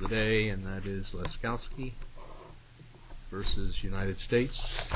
Today and that is Laskowski versus United States Department of Health and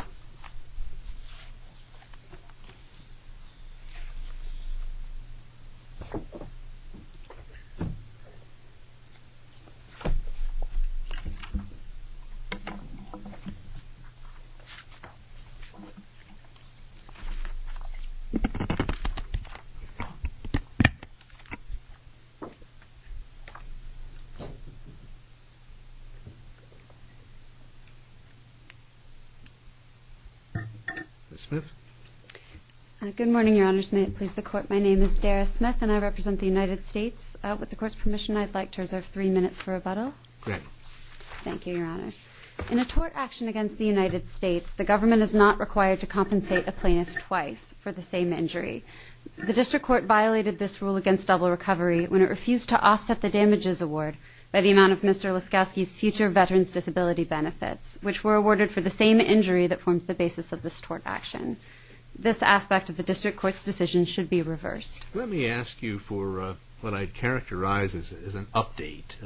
Human Services. In a tort action against the United States, the government is not required to compensate a plaintiff twice for the same injury. The district court violated this rule against double recovery when it refused to offset the damages award by the amount of Mr. Laskowski's future veteran's disability benefits, which were awarded for the same injury that forms the basis of this tort action. This aspect of the district court's decision should be reversed. Let me ask you for what I'd characterize as an update.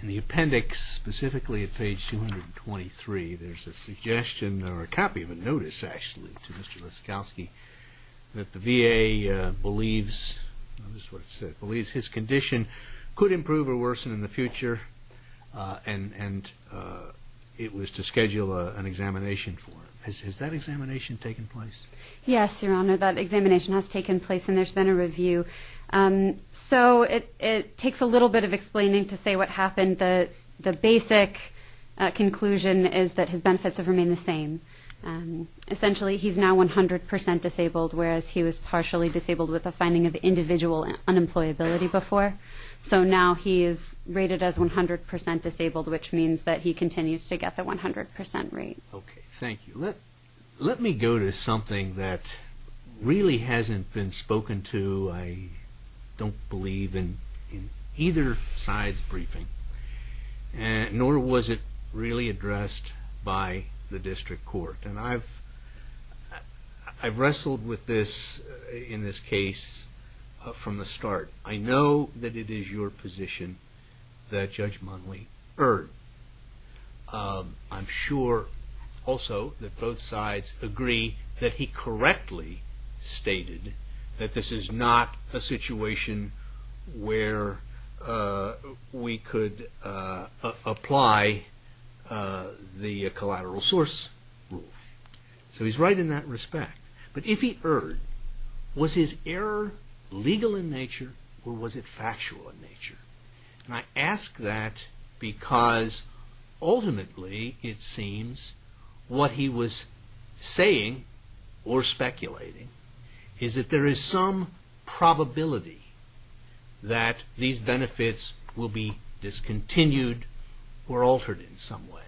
In the appendix, specifically at page 223, there's a suggestion or a copy of a notice actually to Mr. Laskowski that the VA believes his condition could improve or worsen in the future and it was to schedule an examination for him. Has that examination taken place? Yes, your honor, that examination has taken place and there's been a review. So it takes a little bit of explaining to say what happened. And the basic conclusion is that his benefits have remained the same. Essentially he's now 100% disabled, whereas he was partially disabled with a finding of individual unemployability before. So now he is rated as 100% disabled, which means that he continues to get the 100% rate. Thank you. Let me go to something that really hasn't been spoken to, I don't believe, in either side's briefing, nor was it really addressed by the district court. I've wrestled with this in this case from the start. I know that it is your position that Judge Mundley erred. I'm sure also that both sides agree that he correctly stated that this is not a situation where we could apply the collateral source rule. So he's right in that respect. But if he erred, was his error legal in nature or was it factual in nature? And I ask that because ultimately it seems what he was saying or speculating is that there is some probability that these benefits will be discontinued or altered in some way.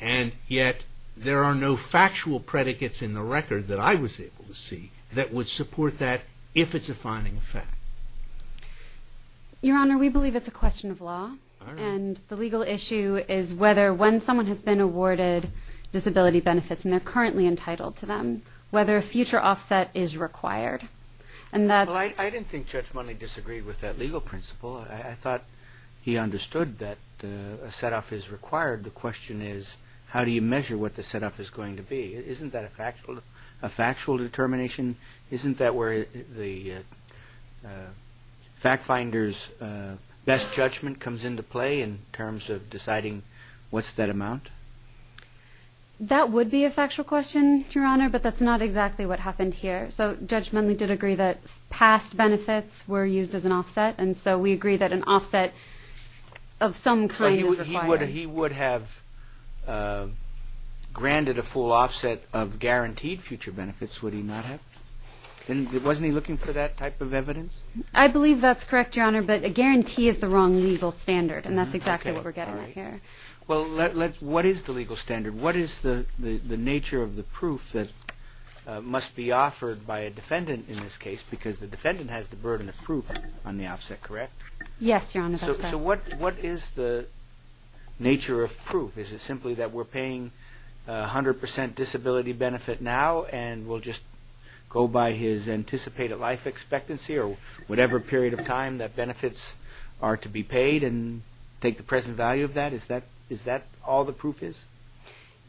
And yet there are no factual predicates in the record that I was able to see that would support that if it's a finding of fact. Your Honor, we believe it's a question of law and the legal issue is whether when someone has been awarded disability benefits and they're currently entitled to them, whether a future offset is required. I didn't think Judge Mundley disagreed with that legal principle. I thought he understood that a set-off is required. The question is how do you measure what the set-off is going to be? Isn't that a factual determination? Isn't that where the fact finder's best judgment comes into play in terms of deciding what's that amount? That would be a factual question, Your Honor, but that's not exactly what happened here. So Judge Mundley did agree that past benefits were used as an offset and so we agree that an offset of some kind is required. He would have granted a full offset of guaranteed future benefits, would he not have? Wasn't he looking for that type of evidence? I believe that's correct, Your Honor, but a guarantee is the wrong legal standard and that's exactly what we're getting at here. Well, what is the legal standard? What is the nature of the proof that must be offered by a defendant in this case because the defendant has the burden of proof on the offset, correct? Yes, Your Honor, that's correct. What is the nature of proof? Is it simply that we're paying 100% disability benefit now and we'll just go by his anticipated life expectancy or whatever period of time that benefits are to be paid and take the present value of that? Is that all the proof is?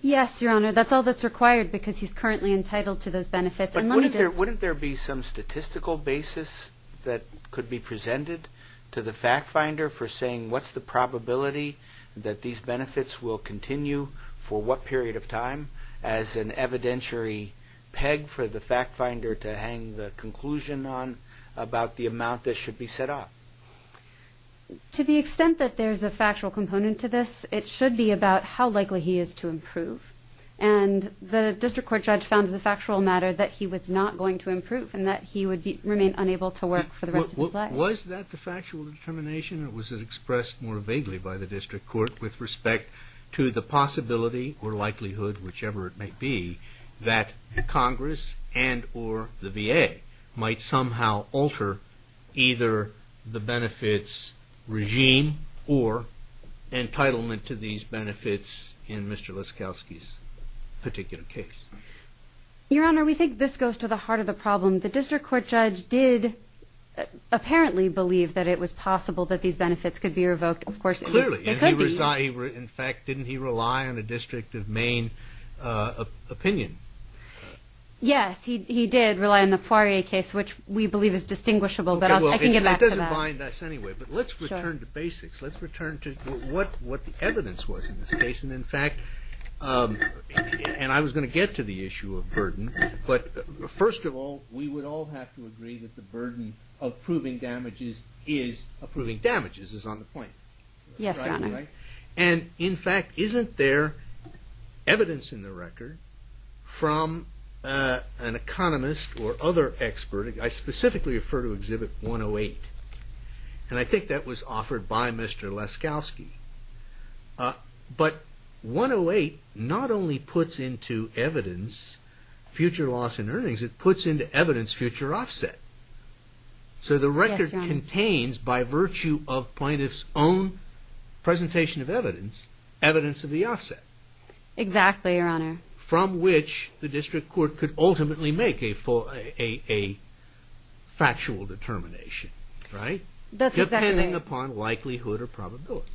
Yes, Your Honor, that's all that's required because he's currently entitled to those benefits. But wouldn't there be some statistical basis that could be presented to the fact finder for saying what's the probability that these benefits will continue for what period of time as an evidentiary peg for the fact finder to hang the conclusion on about the amount that should be set up? To the extent that there's a factual component to this, it should be about how likely he is to improve and the District Court judge found as a factual matter that he was not going to improve and that he would remain unable to work for the rest of his life. Was that the factual determination or was it expressed more vaguely by the District Court with respect to the possibility or likelihood, whichever it may be, that Congress and or the VA might somehow alter either the benefits regime or entitlement to these benefits in Mr. Laskowski's particular case? Your Honor, we think this goes to the heart of the problem. The District Court judge did apparently believe that it was possible that these benefits could be revoked. Of course, it could be. Clearly, in fact, didn't he rely on a District of Maine opinion? Yes, he did rely on the Poirier case, which we believe is distinguishable. I can get back to that. It doesn't bind us anyway, but let's return to basics. Let's return to what the evidence was in this case. In fact, and I was going to get to the issue of burden, but first of all, we would all have to agree that the burden of proving damages is on the point. Yes, Your Honor. In fact, isn't there evidence in the record from an economist or other expert? I specifically refer to Exhibit 108, and I think that was offered by Mr. Laskowski. But 108 not only puts into evidence future loss in earnings, it puts into evidence future offset. Yes, Your Honor. It contains, by virtue of plaintiff's own presentation of evidence, evidence of the offset. Exactly, Your Honor. From which the district court could ultimately make a factual determination, right? That's exactly right. Depending upon likelihood or probability.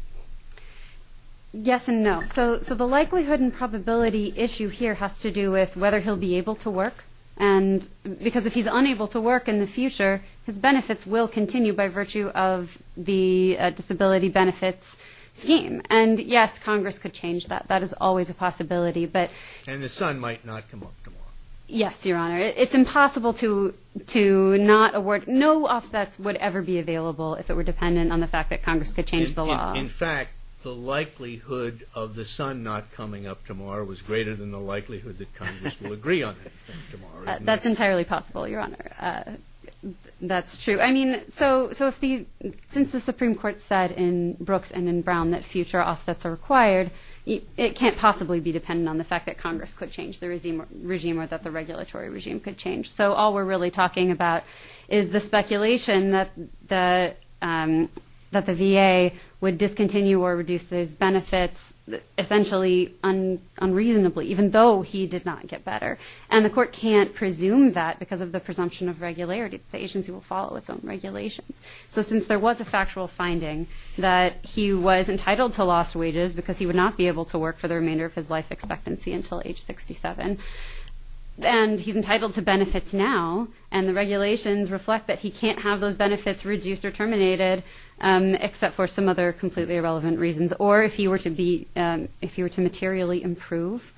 Yes and no. So the likelihood and probability issue here has to do with whether he'll be able to work, because if he's unable to work in the future, his benefits will continue by virtue of the disability benefits scheme. And yes, Congress could change that. That is always a possibility. And the sun might not come up tomorrow. Yes, Your Honor. It's impossible to not award. No offsets would ever be available if it were dependent on the fact that Congress could change the law. In fact, the likelihood of the sun not coming up tomorrow was greater than the likelihood that Congress will agree on anything tomorrow. That's entirely possible, Your Honor. That's true. I mean, so since the Supreme Court said in Brooks and in Brown that future offsets are required, it can't possibly be dependent on the fact that Congress could change the regime or that the regulatory regime could change. So all we're really talking about is the speculation that the VA would discontinue or reduce those And the court can't presume that because of the presumption of regularity. The agency will follow its own regulations. So since there was a factual finding that he was entitled to lost wages because he would not be able to work for the remainder of his life expectancy until age 67, and he's entitled to benefits now, and the regulations reflect that he can't have those benefits reduced or terminated except for some other completely irrelevant reasons, or if he were to materially improve,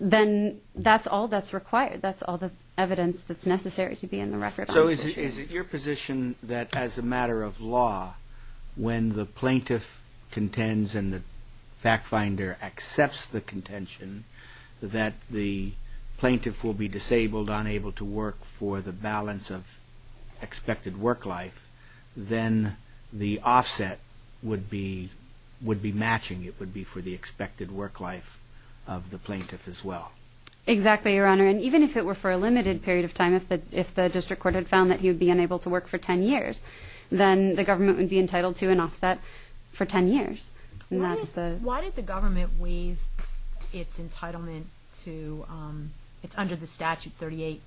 then that's all that's required. That's all the evidence that's necessary to be in the record. So is it your position that as a matter of law, when the plaintiff contends and the fact finder accepts the contention that the plaintiff will be disabled, unable to work for the balance of expected work life, then the offset would be matching. It would be for the expected work life of the plaintiff as well. Exactly, Your Honor. And even if it were for a limited period of time, if the district court had found that he would be unable to work for 10 years, then the government would be entitled to an offset for 10 years. Why did the government waive its entitlement to, it's under the statute 38-1151,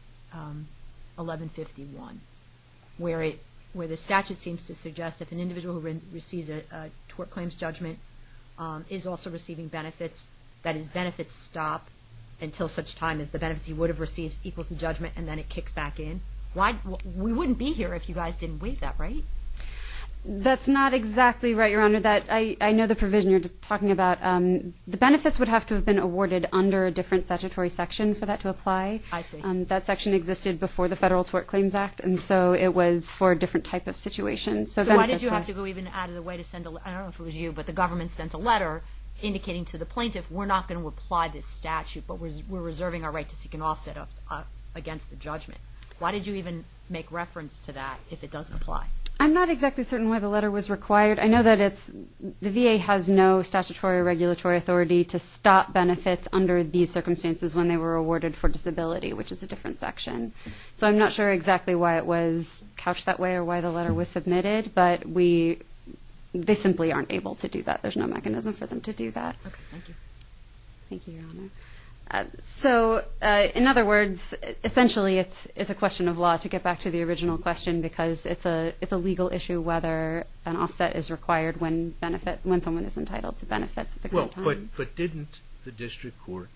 where the statute seems to suggest if an individual who receives a tort claims judgment is also receiving benefits, that his benefits stop until such time as the benefits he would have received equal to judgment, and then it kicks back in. We wouldn't be here if you guys didn't waive that, right? That's not exactly right, Your Honor. I know the provision you're talking about. The benefits would have to have been awarded under a different statutory section for that to apply. I see. That section existed before the Federal Tort Claims Act, and so it was for a different type of situation. So why did you have to go even out of the way to send a letter? I don't know if it was you, but the government sent a letter indicating to the plaintiff, we're not going to apply this statute, but we're reserving our right to seek an offset against the judgment. Why did you even make reference to that if it doesn't apply? I'm not exactly certain why the letter was required. I know that the VA has no statutory or regulatory authority to stop benefits under these So I'm not sure exactly why it was couched that way or why the letter was submitted, but they simply aren't able to do that. There's no mechanism for them to do that. Okay, thank you. Thank you, Your Honor. So, in other words, essentially it's a question of law to get back to the original question because it's a legal issue whether an offset is required when someone is entitled to benefits at the current time. Well, but didn't the district court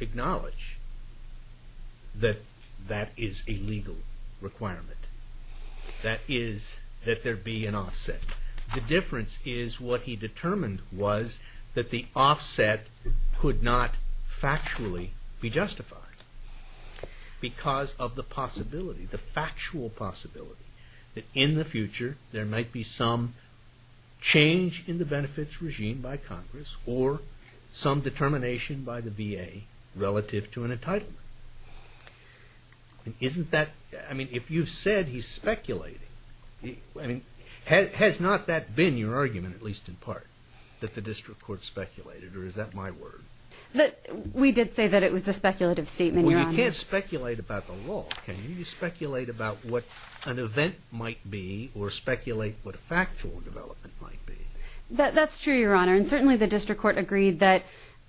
acknowledge that that is a legal requirement, that there be an offset? The difference is what he determined was that the offset could not factually be justified because of the possibility, the factual possibility, that in the future there might be some change in the benefits regime by Congress or some determination by the VA relative to an entitlement. I mean, if you've said he's speculating, has not that been your argument, at least in part, that the district court speculated, or is that my word? We did say that it was a speculative statement, Your Honor. Well, you can't speculate about the law, can you? You can't speculate about what an event might be or speculate what a factual development might be. That's true, Your Honor. And certainly the district court agreed that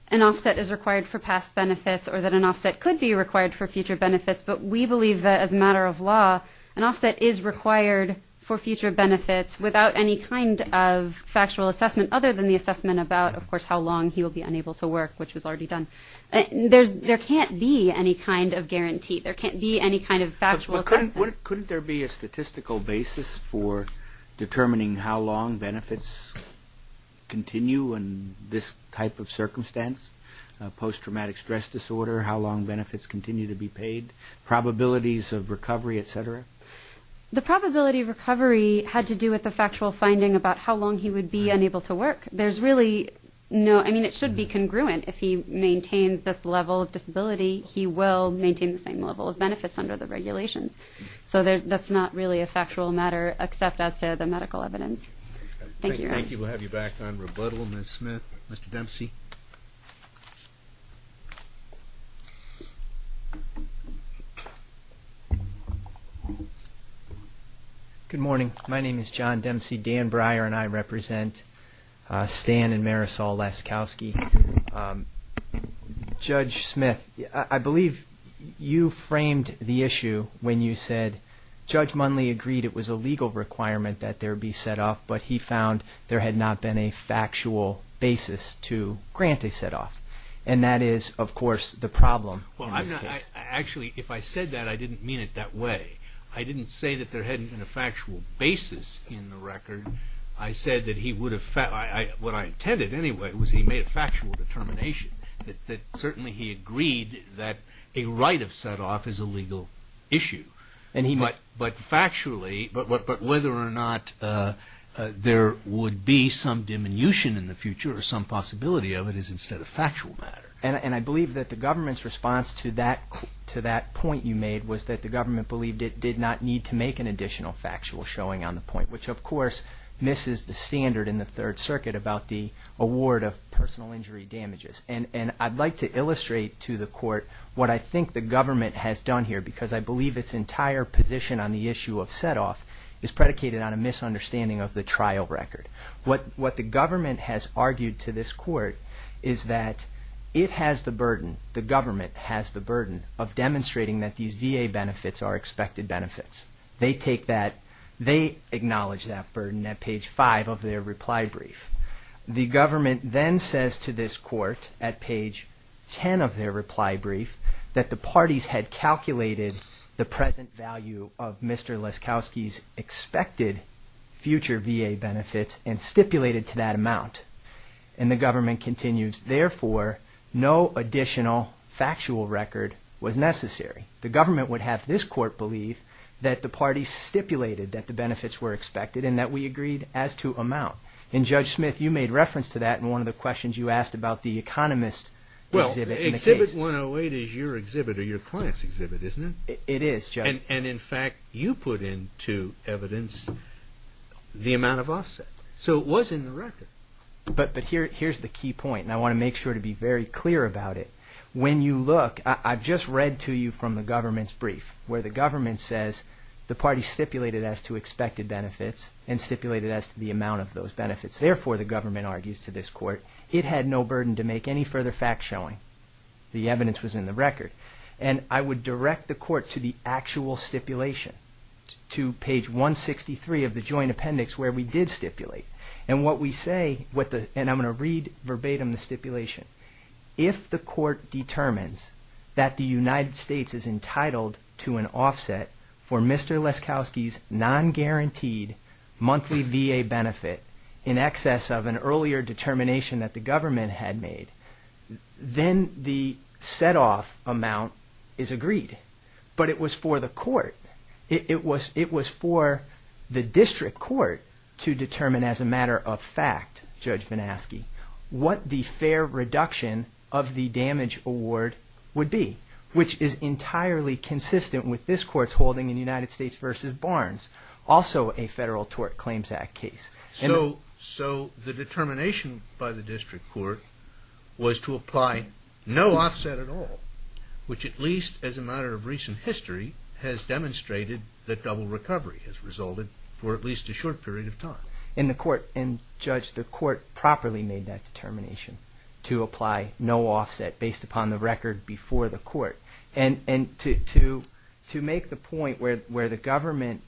an offset is required for past benefits or that an offset could be required for future benefits. But we believe that as a matter of law an offset is required for future benefits without any kind of factual assessment other than the assessment about, of course, how long he will be unable to work, which was already done. There can't be any kind of guarantee. There can't be any kind of factual assessment. Couldn't there be a statistical basis for determining how long benefits continue in this type of circumstance, post-traumatic stress disorder, how long benefits continue to be paid, probabilities of recovery, et cetera? The probability of recovery had to do with the factual finding about how long he would be unable to work. There's really no, I mean, it should be congruent. If he maintains this level of disability, he will maintain the same level of benefits under the regulations. So that's not really a factual matter except as to the medical evidence. Thank you, Your Honor. Thank you. We'll have you back on rebuttal, Ms. Smith. Mr. Dempsey. Good morning. My name is John Dempsey. Dan Breyer and I represent Stan and Marisol Laskowski. Judge Smith, I believe you framed the issue when you said Judge Munley agreed it was a legal requirement that there be set-off, but he found there had not been a factual basis to grant a set-off, and that is, of course, the problem. Actually, if I said that, I didn't mean it that way. I didn't say that there hadn't been a factual basis in the record. I said that he would have, what I intended anyway was he made a factual determination that certainly he agreed that a right of set-off is a legal issue. But factually, but whether or not there would be some diminution in the future or some possibility of it is instead a factual matter. And I believe that the government's response to that point you made was that the government believed it did not need to make an additional factual showing on the point, which, of course, misses the standard in the Third Circuit about the award of personal injury damages. And I'd like to illustrate to the court what I think the government has done here because I believe its entire position on the issue of set-off is predicated on a misunderstanding of the trial record. What the government has argued to this court is that it has the burden, the government has the burden of demonstrating that these VA benefits are expected benefits. They take that, they acknowledge that burden at page 5 of their reply brief. The government then says to this court at page 10 of their reply brief that the parties had calculated the present value of Mr. Laskowski's expected future VA benefits and stipulated to that amount. And the government continues, therefore, no additional factual record was necessary. The government would have this court believe that the parties stipulated that the benefits were expected and that we agreed as to amount. And, Judge Smith, you made reference to that in one of the questions you asked about the Economist exhibit. Well, exhibit 108 is your exhibit or your client's exhibit, isn't it? It is, Judge. And, in fact, you put into evidence the amount of offset. So it was in the record. But here's the key point, and I want to make sure to be very clear about it. When you look, I've just read to you from the government's brief, where the government says the parties stipulated as to expected benefits and stipulated as to the amount of those benefits. Therefore, the government argues to this court, it had no burden to make any further facts showing. The evidence was in the record. And I would direct the court to the actual stipulation, to page 163 of the joint appendix where we did stipulate. And what we say, and I'm going to read verbatim the stipulation. If the court determines that the United States is entitled to an offset for Mr. Leskoski's non-guaranteed monthly VA benefit in excess of an earlier determination that the government had made, then the set-off amount is agreed. But it was for the court. It was for the district court to determine as a matter of fact, Judge Vanaski, what the fair reduction of the damage award would be, which is entirely consistent with this court's holding in United States v. Barnes, also a Federal Tort Claims Act case. So the determination by the district court was to apply no offset at all, which at least as a matter of recent history has demonstrated that double recovery has resulted for at least a short period of time. And the court, and Judge, the court properly made that determination to apply no offset based upon the record before the court. And to make the point where the government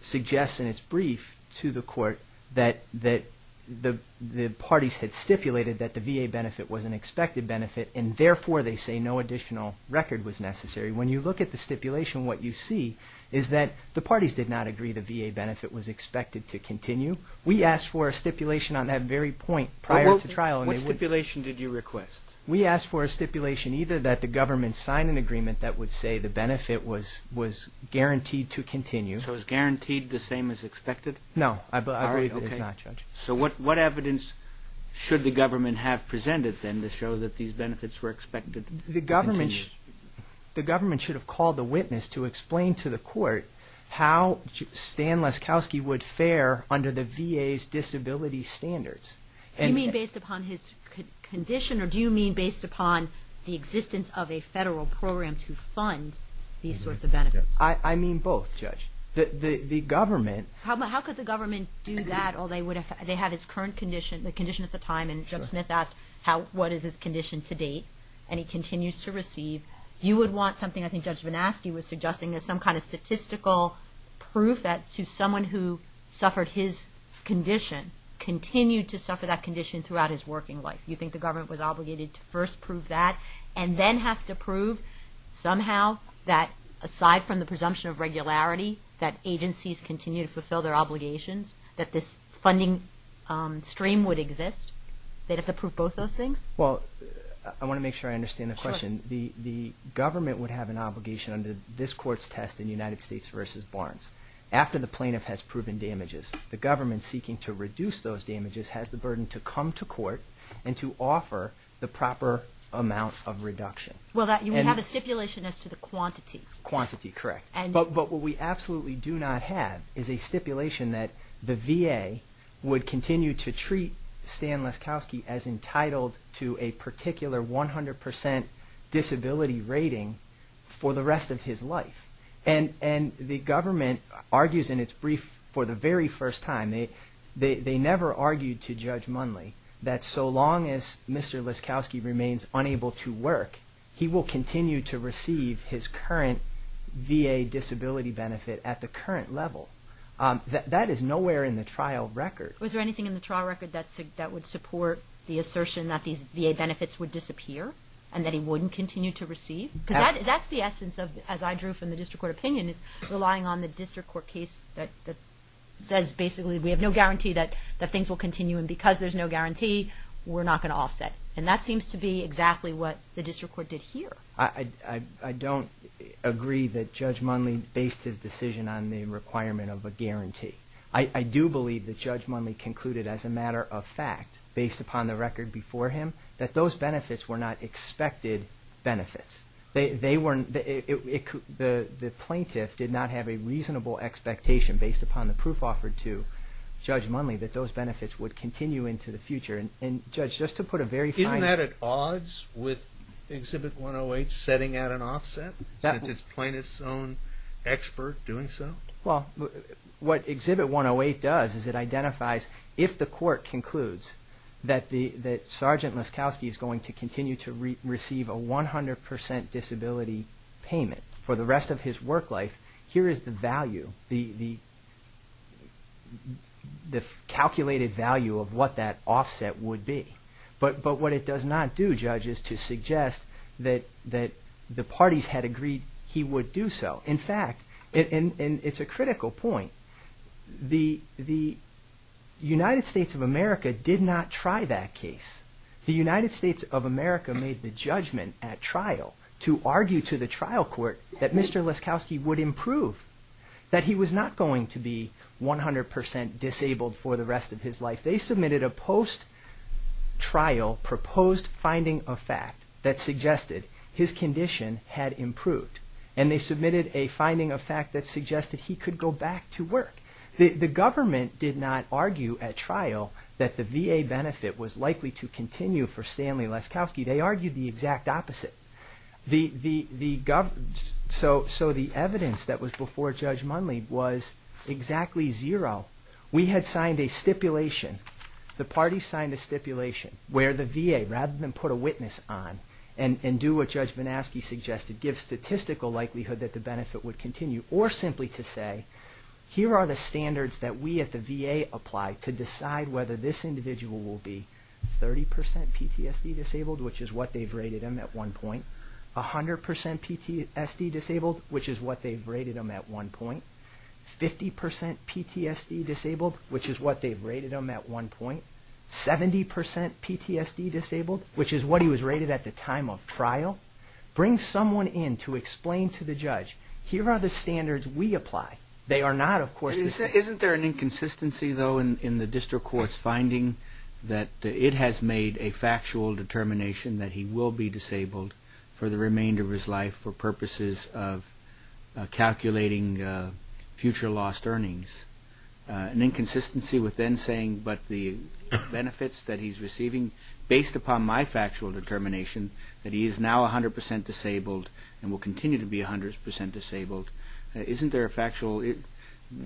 suggests in its brief to the court that the parties had stipulated that the VA benefit was an expected benefit, and therefore they say no additional record was necessary. When you look at the stipulation, what you see is that the parties did not agree the VA benefit was expected to continue. We asked for a stipulation on that very point prior to trial. What stipulation did you request? We asked for a stipulation either that the government sign an agreement that would say the benefit was guaranteed to continue. So it was guaranteed the same as expected? No. I believe it is not, Judge. So what evidence should the government have presented then to show that these benefits were expected to continue? The government should have called the witness to explain to the court how Stan Leskowski would fare under the VA's disability standards. You mean based upon his condition, or do you mean based upon the existence of a federal program to fund these sorts of benefits? I mean both, Judge. The government... How could the government do that? They have his current condition, the condition at the time, and Judge Smith asked what is his condition to date, and he continues to receive. You would want something, I think Judge Vanaski was suggesting, as some kind of statistical proof that someone who suffered his condition continued to suffer that condition throughout his working life. You think the government was obligated to first prove that and then have to prove somehow that aside from the presumption of regularity that agencies continue to fulfill their obligations, that this funding stream would exist? They'd have to prove both those things? Well, I want to make sure I understand the question. Sure. The government would have an obligation under this court's test in United States v. Barnes. After the plaintiff has proven damages, the government seeking to reduce those damages has the burden to come to court and to offer the proper amount of reduction. Well, you would have a stipulation as to the quantity. Quantity, correct. But what we absolutely do not have is a stipulation that the VA would continue to treat Stan Leskowski as entitled to a particular 100% disability rating for the rest of his life. And the government argues in its brief for the very first time, they never argued to Judge Munley that so long as Mr. Leskowski remains unable to work, he will continue to receive his current VA disability benefit at the current level. That is nowhere in the trial record. Was there anything in the trial record that would support the assertion that these VA benefits would disappear and that he wouldn't continue to receive? Because that's the essence of, as I drew from the district court opinion, is relying on the district court case that says, basically, we have no guarantee that things will continue, and because there's no guarantee, we're not going to offset. And that seems to be exactly what the district court did here. I don't agree that Judge Munley based his decision on the requirement of a guarantee. I do believe that Judge Munley concluded, as a matter of fact, based upon the record before him, that those benefits were not expected benefits. The plaintiff did not have a reasonable expectation, based upon the proof offered to Judge Munley, that those benefits would continue into the future. And, Judge, just to put a very fine... Isn't that at odds with Exhibit 108 setting out an offset, since it's plaintiff's own expert doing so? Well, what Exhibit 108 does is it identifies if the court concludes that Sergeant Laskowski is going to continue to receive a 100 percent disability payment for the rest of his work life, here is the value, the calculated value of what that offset would be. But what it does not do, Judge, is to suggest that the parties had agreed he would do so. In fact, and it's a critical point, the United States of America did not try that case. The United States of America made the judgment at trial to argue to the trial court that Mr. Laskowski would improve, that he was not going to be 100 percent disabled for the rest of his life. They submitted a post-trial proposed finding of fact that suggested his condition had improved. And they submitted a finding of fact that suggested he could go back to work. The government did not argue at trial that the VA benefit was likely to continue for Stanley Laskowski. They argued the exact opposite. So the evidence that was before Judge Munley was exactly zero. We had signed a stipulation, the parties signed a stipulation, where the VA, rather than put a witness on and do what Judge Vanaski suggested, give statistical likelihood that the benefit would continue, or simply to say, here are the standards that we at the VA apply to decide whether this individual will be 30 percent PTSD disabled, which is what they've rated him at one point, 100 percent PTSD disabled, which is what they've rated him at one point, 50 percent PTSD disabled, which is what they've rated him at one point, 70 percent PTSD disabled, which is what he was rated at the time of trial. Bring someone in to explain to the judge, here are the standards we apply. They are not, of course. Isn't there an inconsistency, though, in the district court's finding that it has made a factual determination that he will be disabled for the remainder of his life for purposes of calculating future lost earnings? An inconsistency with them saying, but the benefits that he's receiving, based upon my factual determination that he is now 100 percent disabled and will continue to be 100 percent disabled,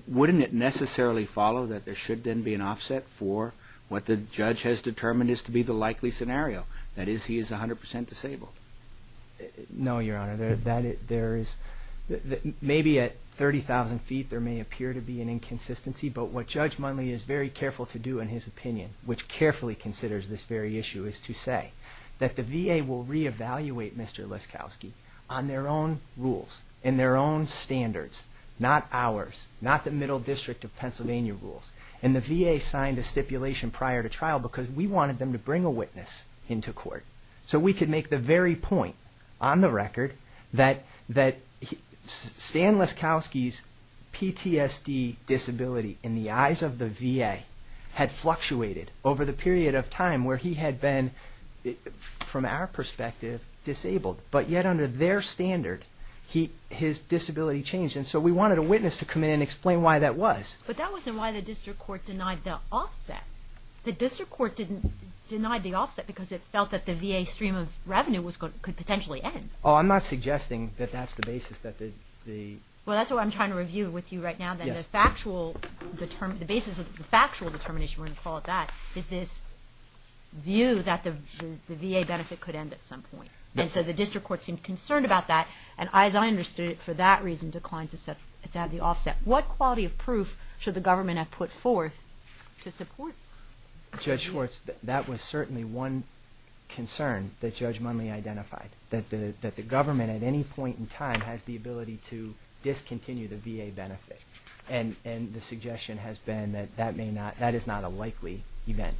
wouldn't it necessarily follow that there should then be an offset for what the judge has determined is to be the likely scenario, that is, he is 100 percent disabled? No, Your Honor. Maybe at 30,000 feet there may appear to be an inconsistency, but what Judge Mundley is very careful to do in his opinion, which carefully considers this very issue, is to say that the VA will re-evaluate Mr. Liskowski on their own rules and their own standards, not ours, not the Middle District of Pennsylvania rules. And the VA signed a stipulation prior to trial because we wanted them to bring a witness into court so we could make the very point on the record that Stan Liskowski's PTSD disability in the eyes of the VA had fluctuated over the period of time where he had been, from our perspective, disabled. But yet under their standard, his disability changed. And so we wanted a witness to come in and explain why that was. But that wasn't why the district court denied the offset. The district court denied the offset because it felt that the VA stream of revenue could potentially end. Oh, I'm not suggesting that that's the basis that the... Well, that's what I'm trying to review with you right now, that the factual, the basis of the factual determination, we're going to call it that, is this view that the VA benefit could end at some point. And so the district court seemed concerned about that. And as I understood it, for that reason, declined to have the offset. What quality of proof should the government have put forth to support? Judge Schwartz, that was certainly one concern that Judge Munley identified, that the government at any point in time has the ability to discontinue the VA benefit. And the suggestion has been that that is not a likely event.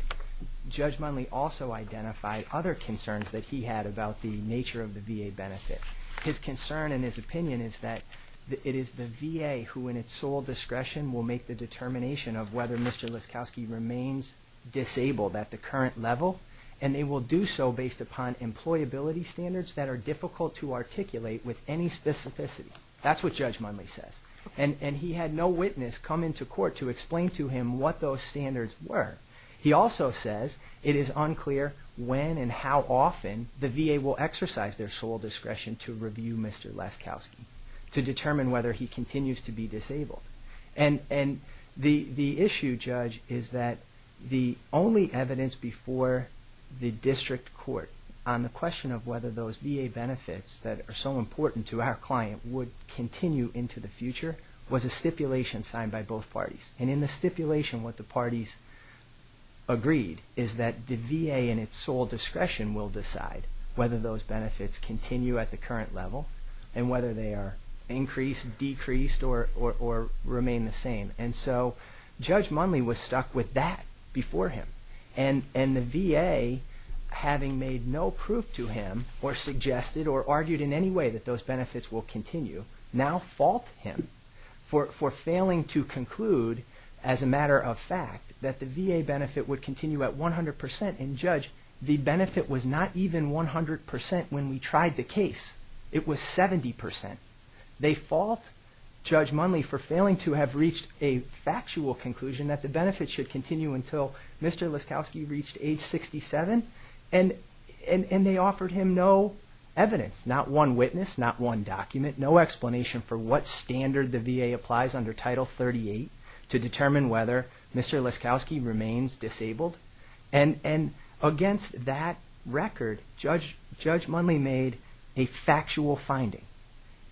Judge Munley also identified other concerns that he had about the nature of the VA benefit. His concern and his opinion is that it is the VA who in its sole discretion will make the determination of whether Mr. Laskowski remains disabled at the current level, and they will do so based upon employability standards that are difficult to articulate with any specificity. That's what Judge Munley says. And he had no witness come into court to explain to him what those standards were. He also says it is unclear when and how often the VA will exercise their sole discretion to review Mr. Laskowski to determine whether he continues to be disabled. And the issue, Judge, is that the only evidence before the district court on the question of whether those VA benefits that are so important to our client would continue into the future was a stipulation signed by both parties. And in the stipulation, what the parties agreed is that the VA in its sole discretion will decide whether those benefits continue at the current level and whether they are increased, decreased, or remain the same. And so Judge Munley was stuck with that before him. And the VA, having made no proof to him or suggested or argued in any way that those benefits will continue, now fault him for failing to conclude as a matter of fact that the VA benefit would continue at 100%. And, Judge, the benefit was not even 100% when we tried the case. It was 70%. They fault Judge Munley for failing to have reached a factual conclusion that the benefits should continue until Mr. Laskowski reached age 67. And they offered him no evidence, not one witness, not one document, no explanation for what standard the VA applies under Title 38 to determine whether Mr. Laskowski remains disabled. And against that record, Judge Munley made a factual finding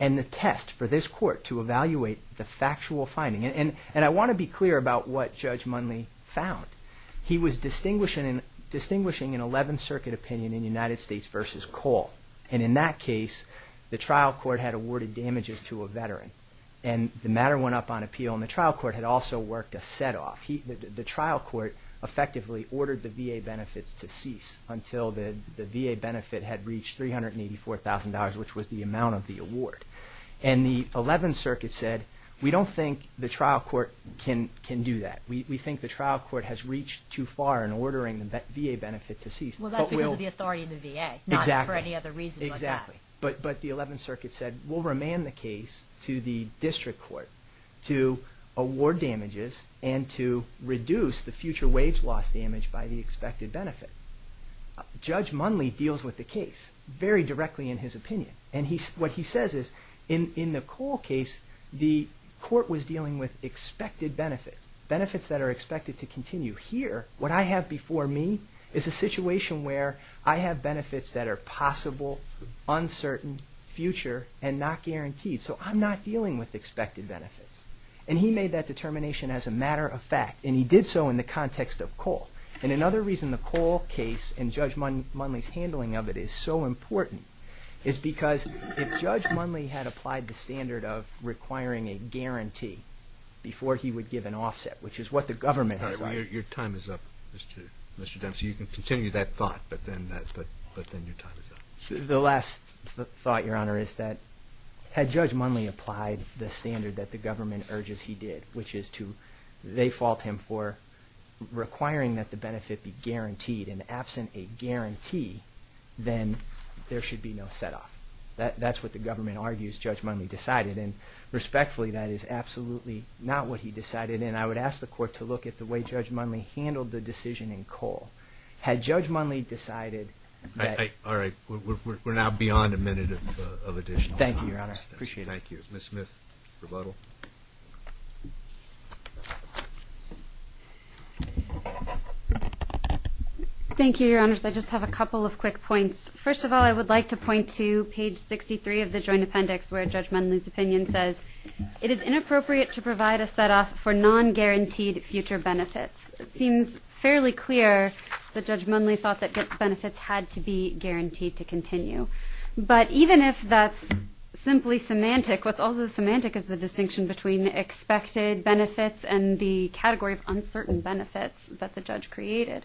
and the test for this court to evaluate the factual finding. And I want to be clear about what Judge Munley found. He was distinguishing an 11th Circuit opinion in United States v. Cole. And in that case, the trial court had awarded damages to a veteran. And the matter went up on appeal, and the trial court had also worked a set-off. The trial court effectively ordered the VA benefits to cease until the VA benefit had reached $384,000, which was the amount of the award. And the 11th Circuit said, we don't think the trial court can do that. We think the trial court has reached too far in ordering the VA benefit to cease. Well, that's because of the authority of the VA. Exactly. Not for any other reason. Exactly. But the 11th Circuit said, we'll remand the case to the district court to award damages and to reduce the future wage loss damage by the expected benefit. Judge Munley deals with the case very directly in his opinion. And what he says is, in the Cole case, the court was dealing with expected benefits, benefits that are expected to continue. Here, what I have before me is a situation where I have benefits that are possible, uncertain, future, and not guaranteed. So I'm not dealing with expected benefits. And he made that determination as a matter of fact. And he did so in the context of Cole. And another reason the Cole case and Judge Munley's handling of it is so important is because if Judge Munley had applied the standard of requiring a guarantee before he would give an offset, which is what the government has done. Your time is up, Mr. Dempsey. You can continue that thought, but then your time is up. The last thought, Your Honor, is that had Judge Munley applied the standard that the government urges he did, which is to default him for requiring that the benefit be guaranteed, and absent a guarantee, then there should be no set-off. That's what the government argues Judge Munley decided. And respectfully, that is absolutely not what he decided. And I would ask the court to look at the way Judge Munley handled the decision in Cole. Had Judge Munley decided that— All right. We're now beyond a minute of additional time. Thank you, Your Honor. I appreciate it. Thank you. Ms. Smith, rebuttal. Thank you, Your Honors. I just have a couple of quick points. First of all, I would like to point to page 63 of the joint appendix where Judge Munley's opinion says, it is inappropriate to provide a set-off for non-guaranteed future benefits. It seems fairly clear that Judge Munley thought that benefits had to be guaranteed to continue. But even if that's simply semantic, what's also semantic is the distinction between expected benefits and the category of uncertain benefits that the judge created.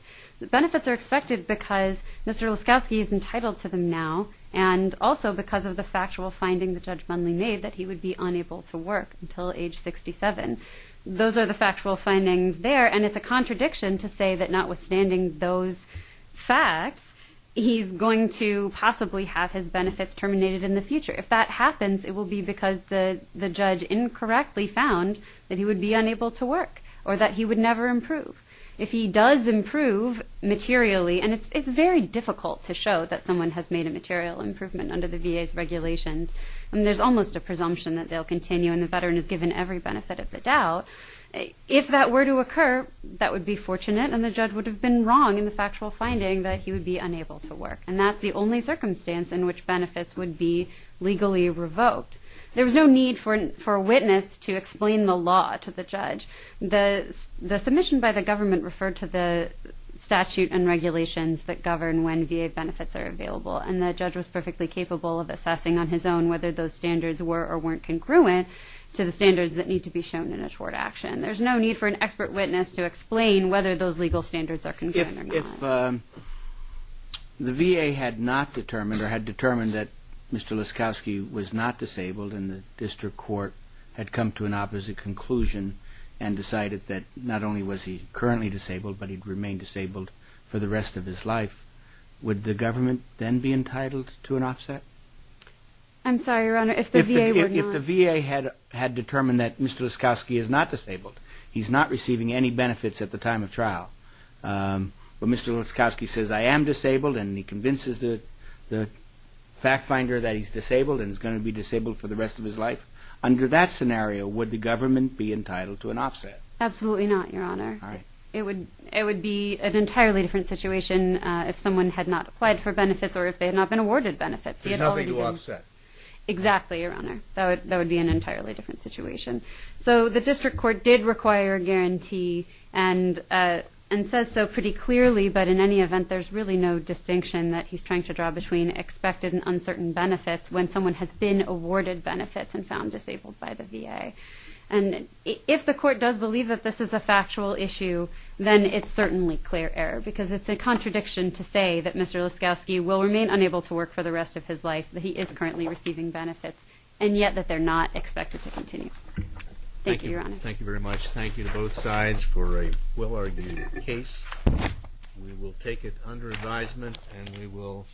Benefits are expected because Mr. Laskowski is entitled to them now and also because of the factual finding that Judge Munley made that he would be unable to work until age 67. Those are the factual findings there, and it's a contradiction to say that notwithstanding those facts, he's going to possibly have his benefits terminated in the future. If that happens, it will be because the judge incorrectly found that he would be unable to work or that he would never improve. If he does improve materially, and it's very difficult to show that someone has made a material improvement under the VA's regulations, and there's almost a presumption that they'll continue and the veteran is given every benefit of the doubt, if that were to occur, that would be fortunate, and the judge would have been wrong in the factual finding that he would be unable to work. And that's the only circumstance in which benefits would be legally revoked. There was no need for a witness to explain the law to the judge. The submission by the government referred to the statute and regulations that govern when VA benefits are available, and the judge was perfectly capable of assessing on his own whether those standards were or weren't congruent to the standards that need to be shown in a short action. There's no need for an expert witness to explain whether those legal standards are congruent or not. If the VA had not determined or had determined that Mr. Laskowski was not disabled and the district court had come to an opposite conclusion and decided that not only was he currently disabled, but he'd remain disabled for the rest of his life, would the government then be entitled to an offset? I'm sorry, Your Honor, if the VA were not... If the VA had determined that Mr. Laskowski is not disabled, he's not receiving any benefits at the time of trial, but Mr. Laskowski says, I am disabled, and he convinces the fact finder that he's disabled and is going to be disabled for the rest of his life. Under that scenario, would the government be entitled to an offset? Absolutely not, Your Honor. It would be an entirely different situation if someone had not applied for benefits or if they had not been awarded benefits. There's nothing to offset. Exactly, Your Honor. That would be an entirely different situation. So the district court did require a guarantee and says so pretty clearly, but in any event, there's really no distinction that he's trying to draw between expected and uncertain benefits when someone has been awarded benefits and found disabled by the VA. And if the court does believe that this is a factual issue, then it's certainly clear error, because it's a contradiction to say that Mr. Laskowski will remain unable to work for the rest of his life, that he is currently receiving benefits, and yet that they're not expected to continue. Thank you, Your Honor. Thank you very much. Thank you to both sides for a well-argued case. We will take it under advisement, and we will...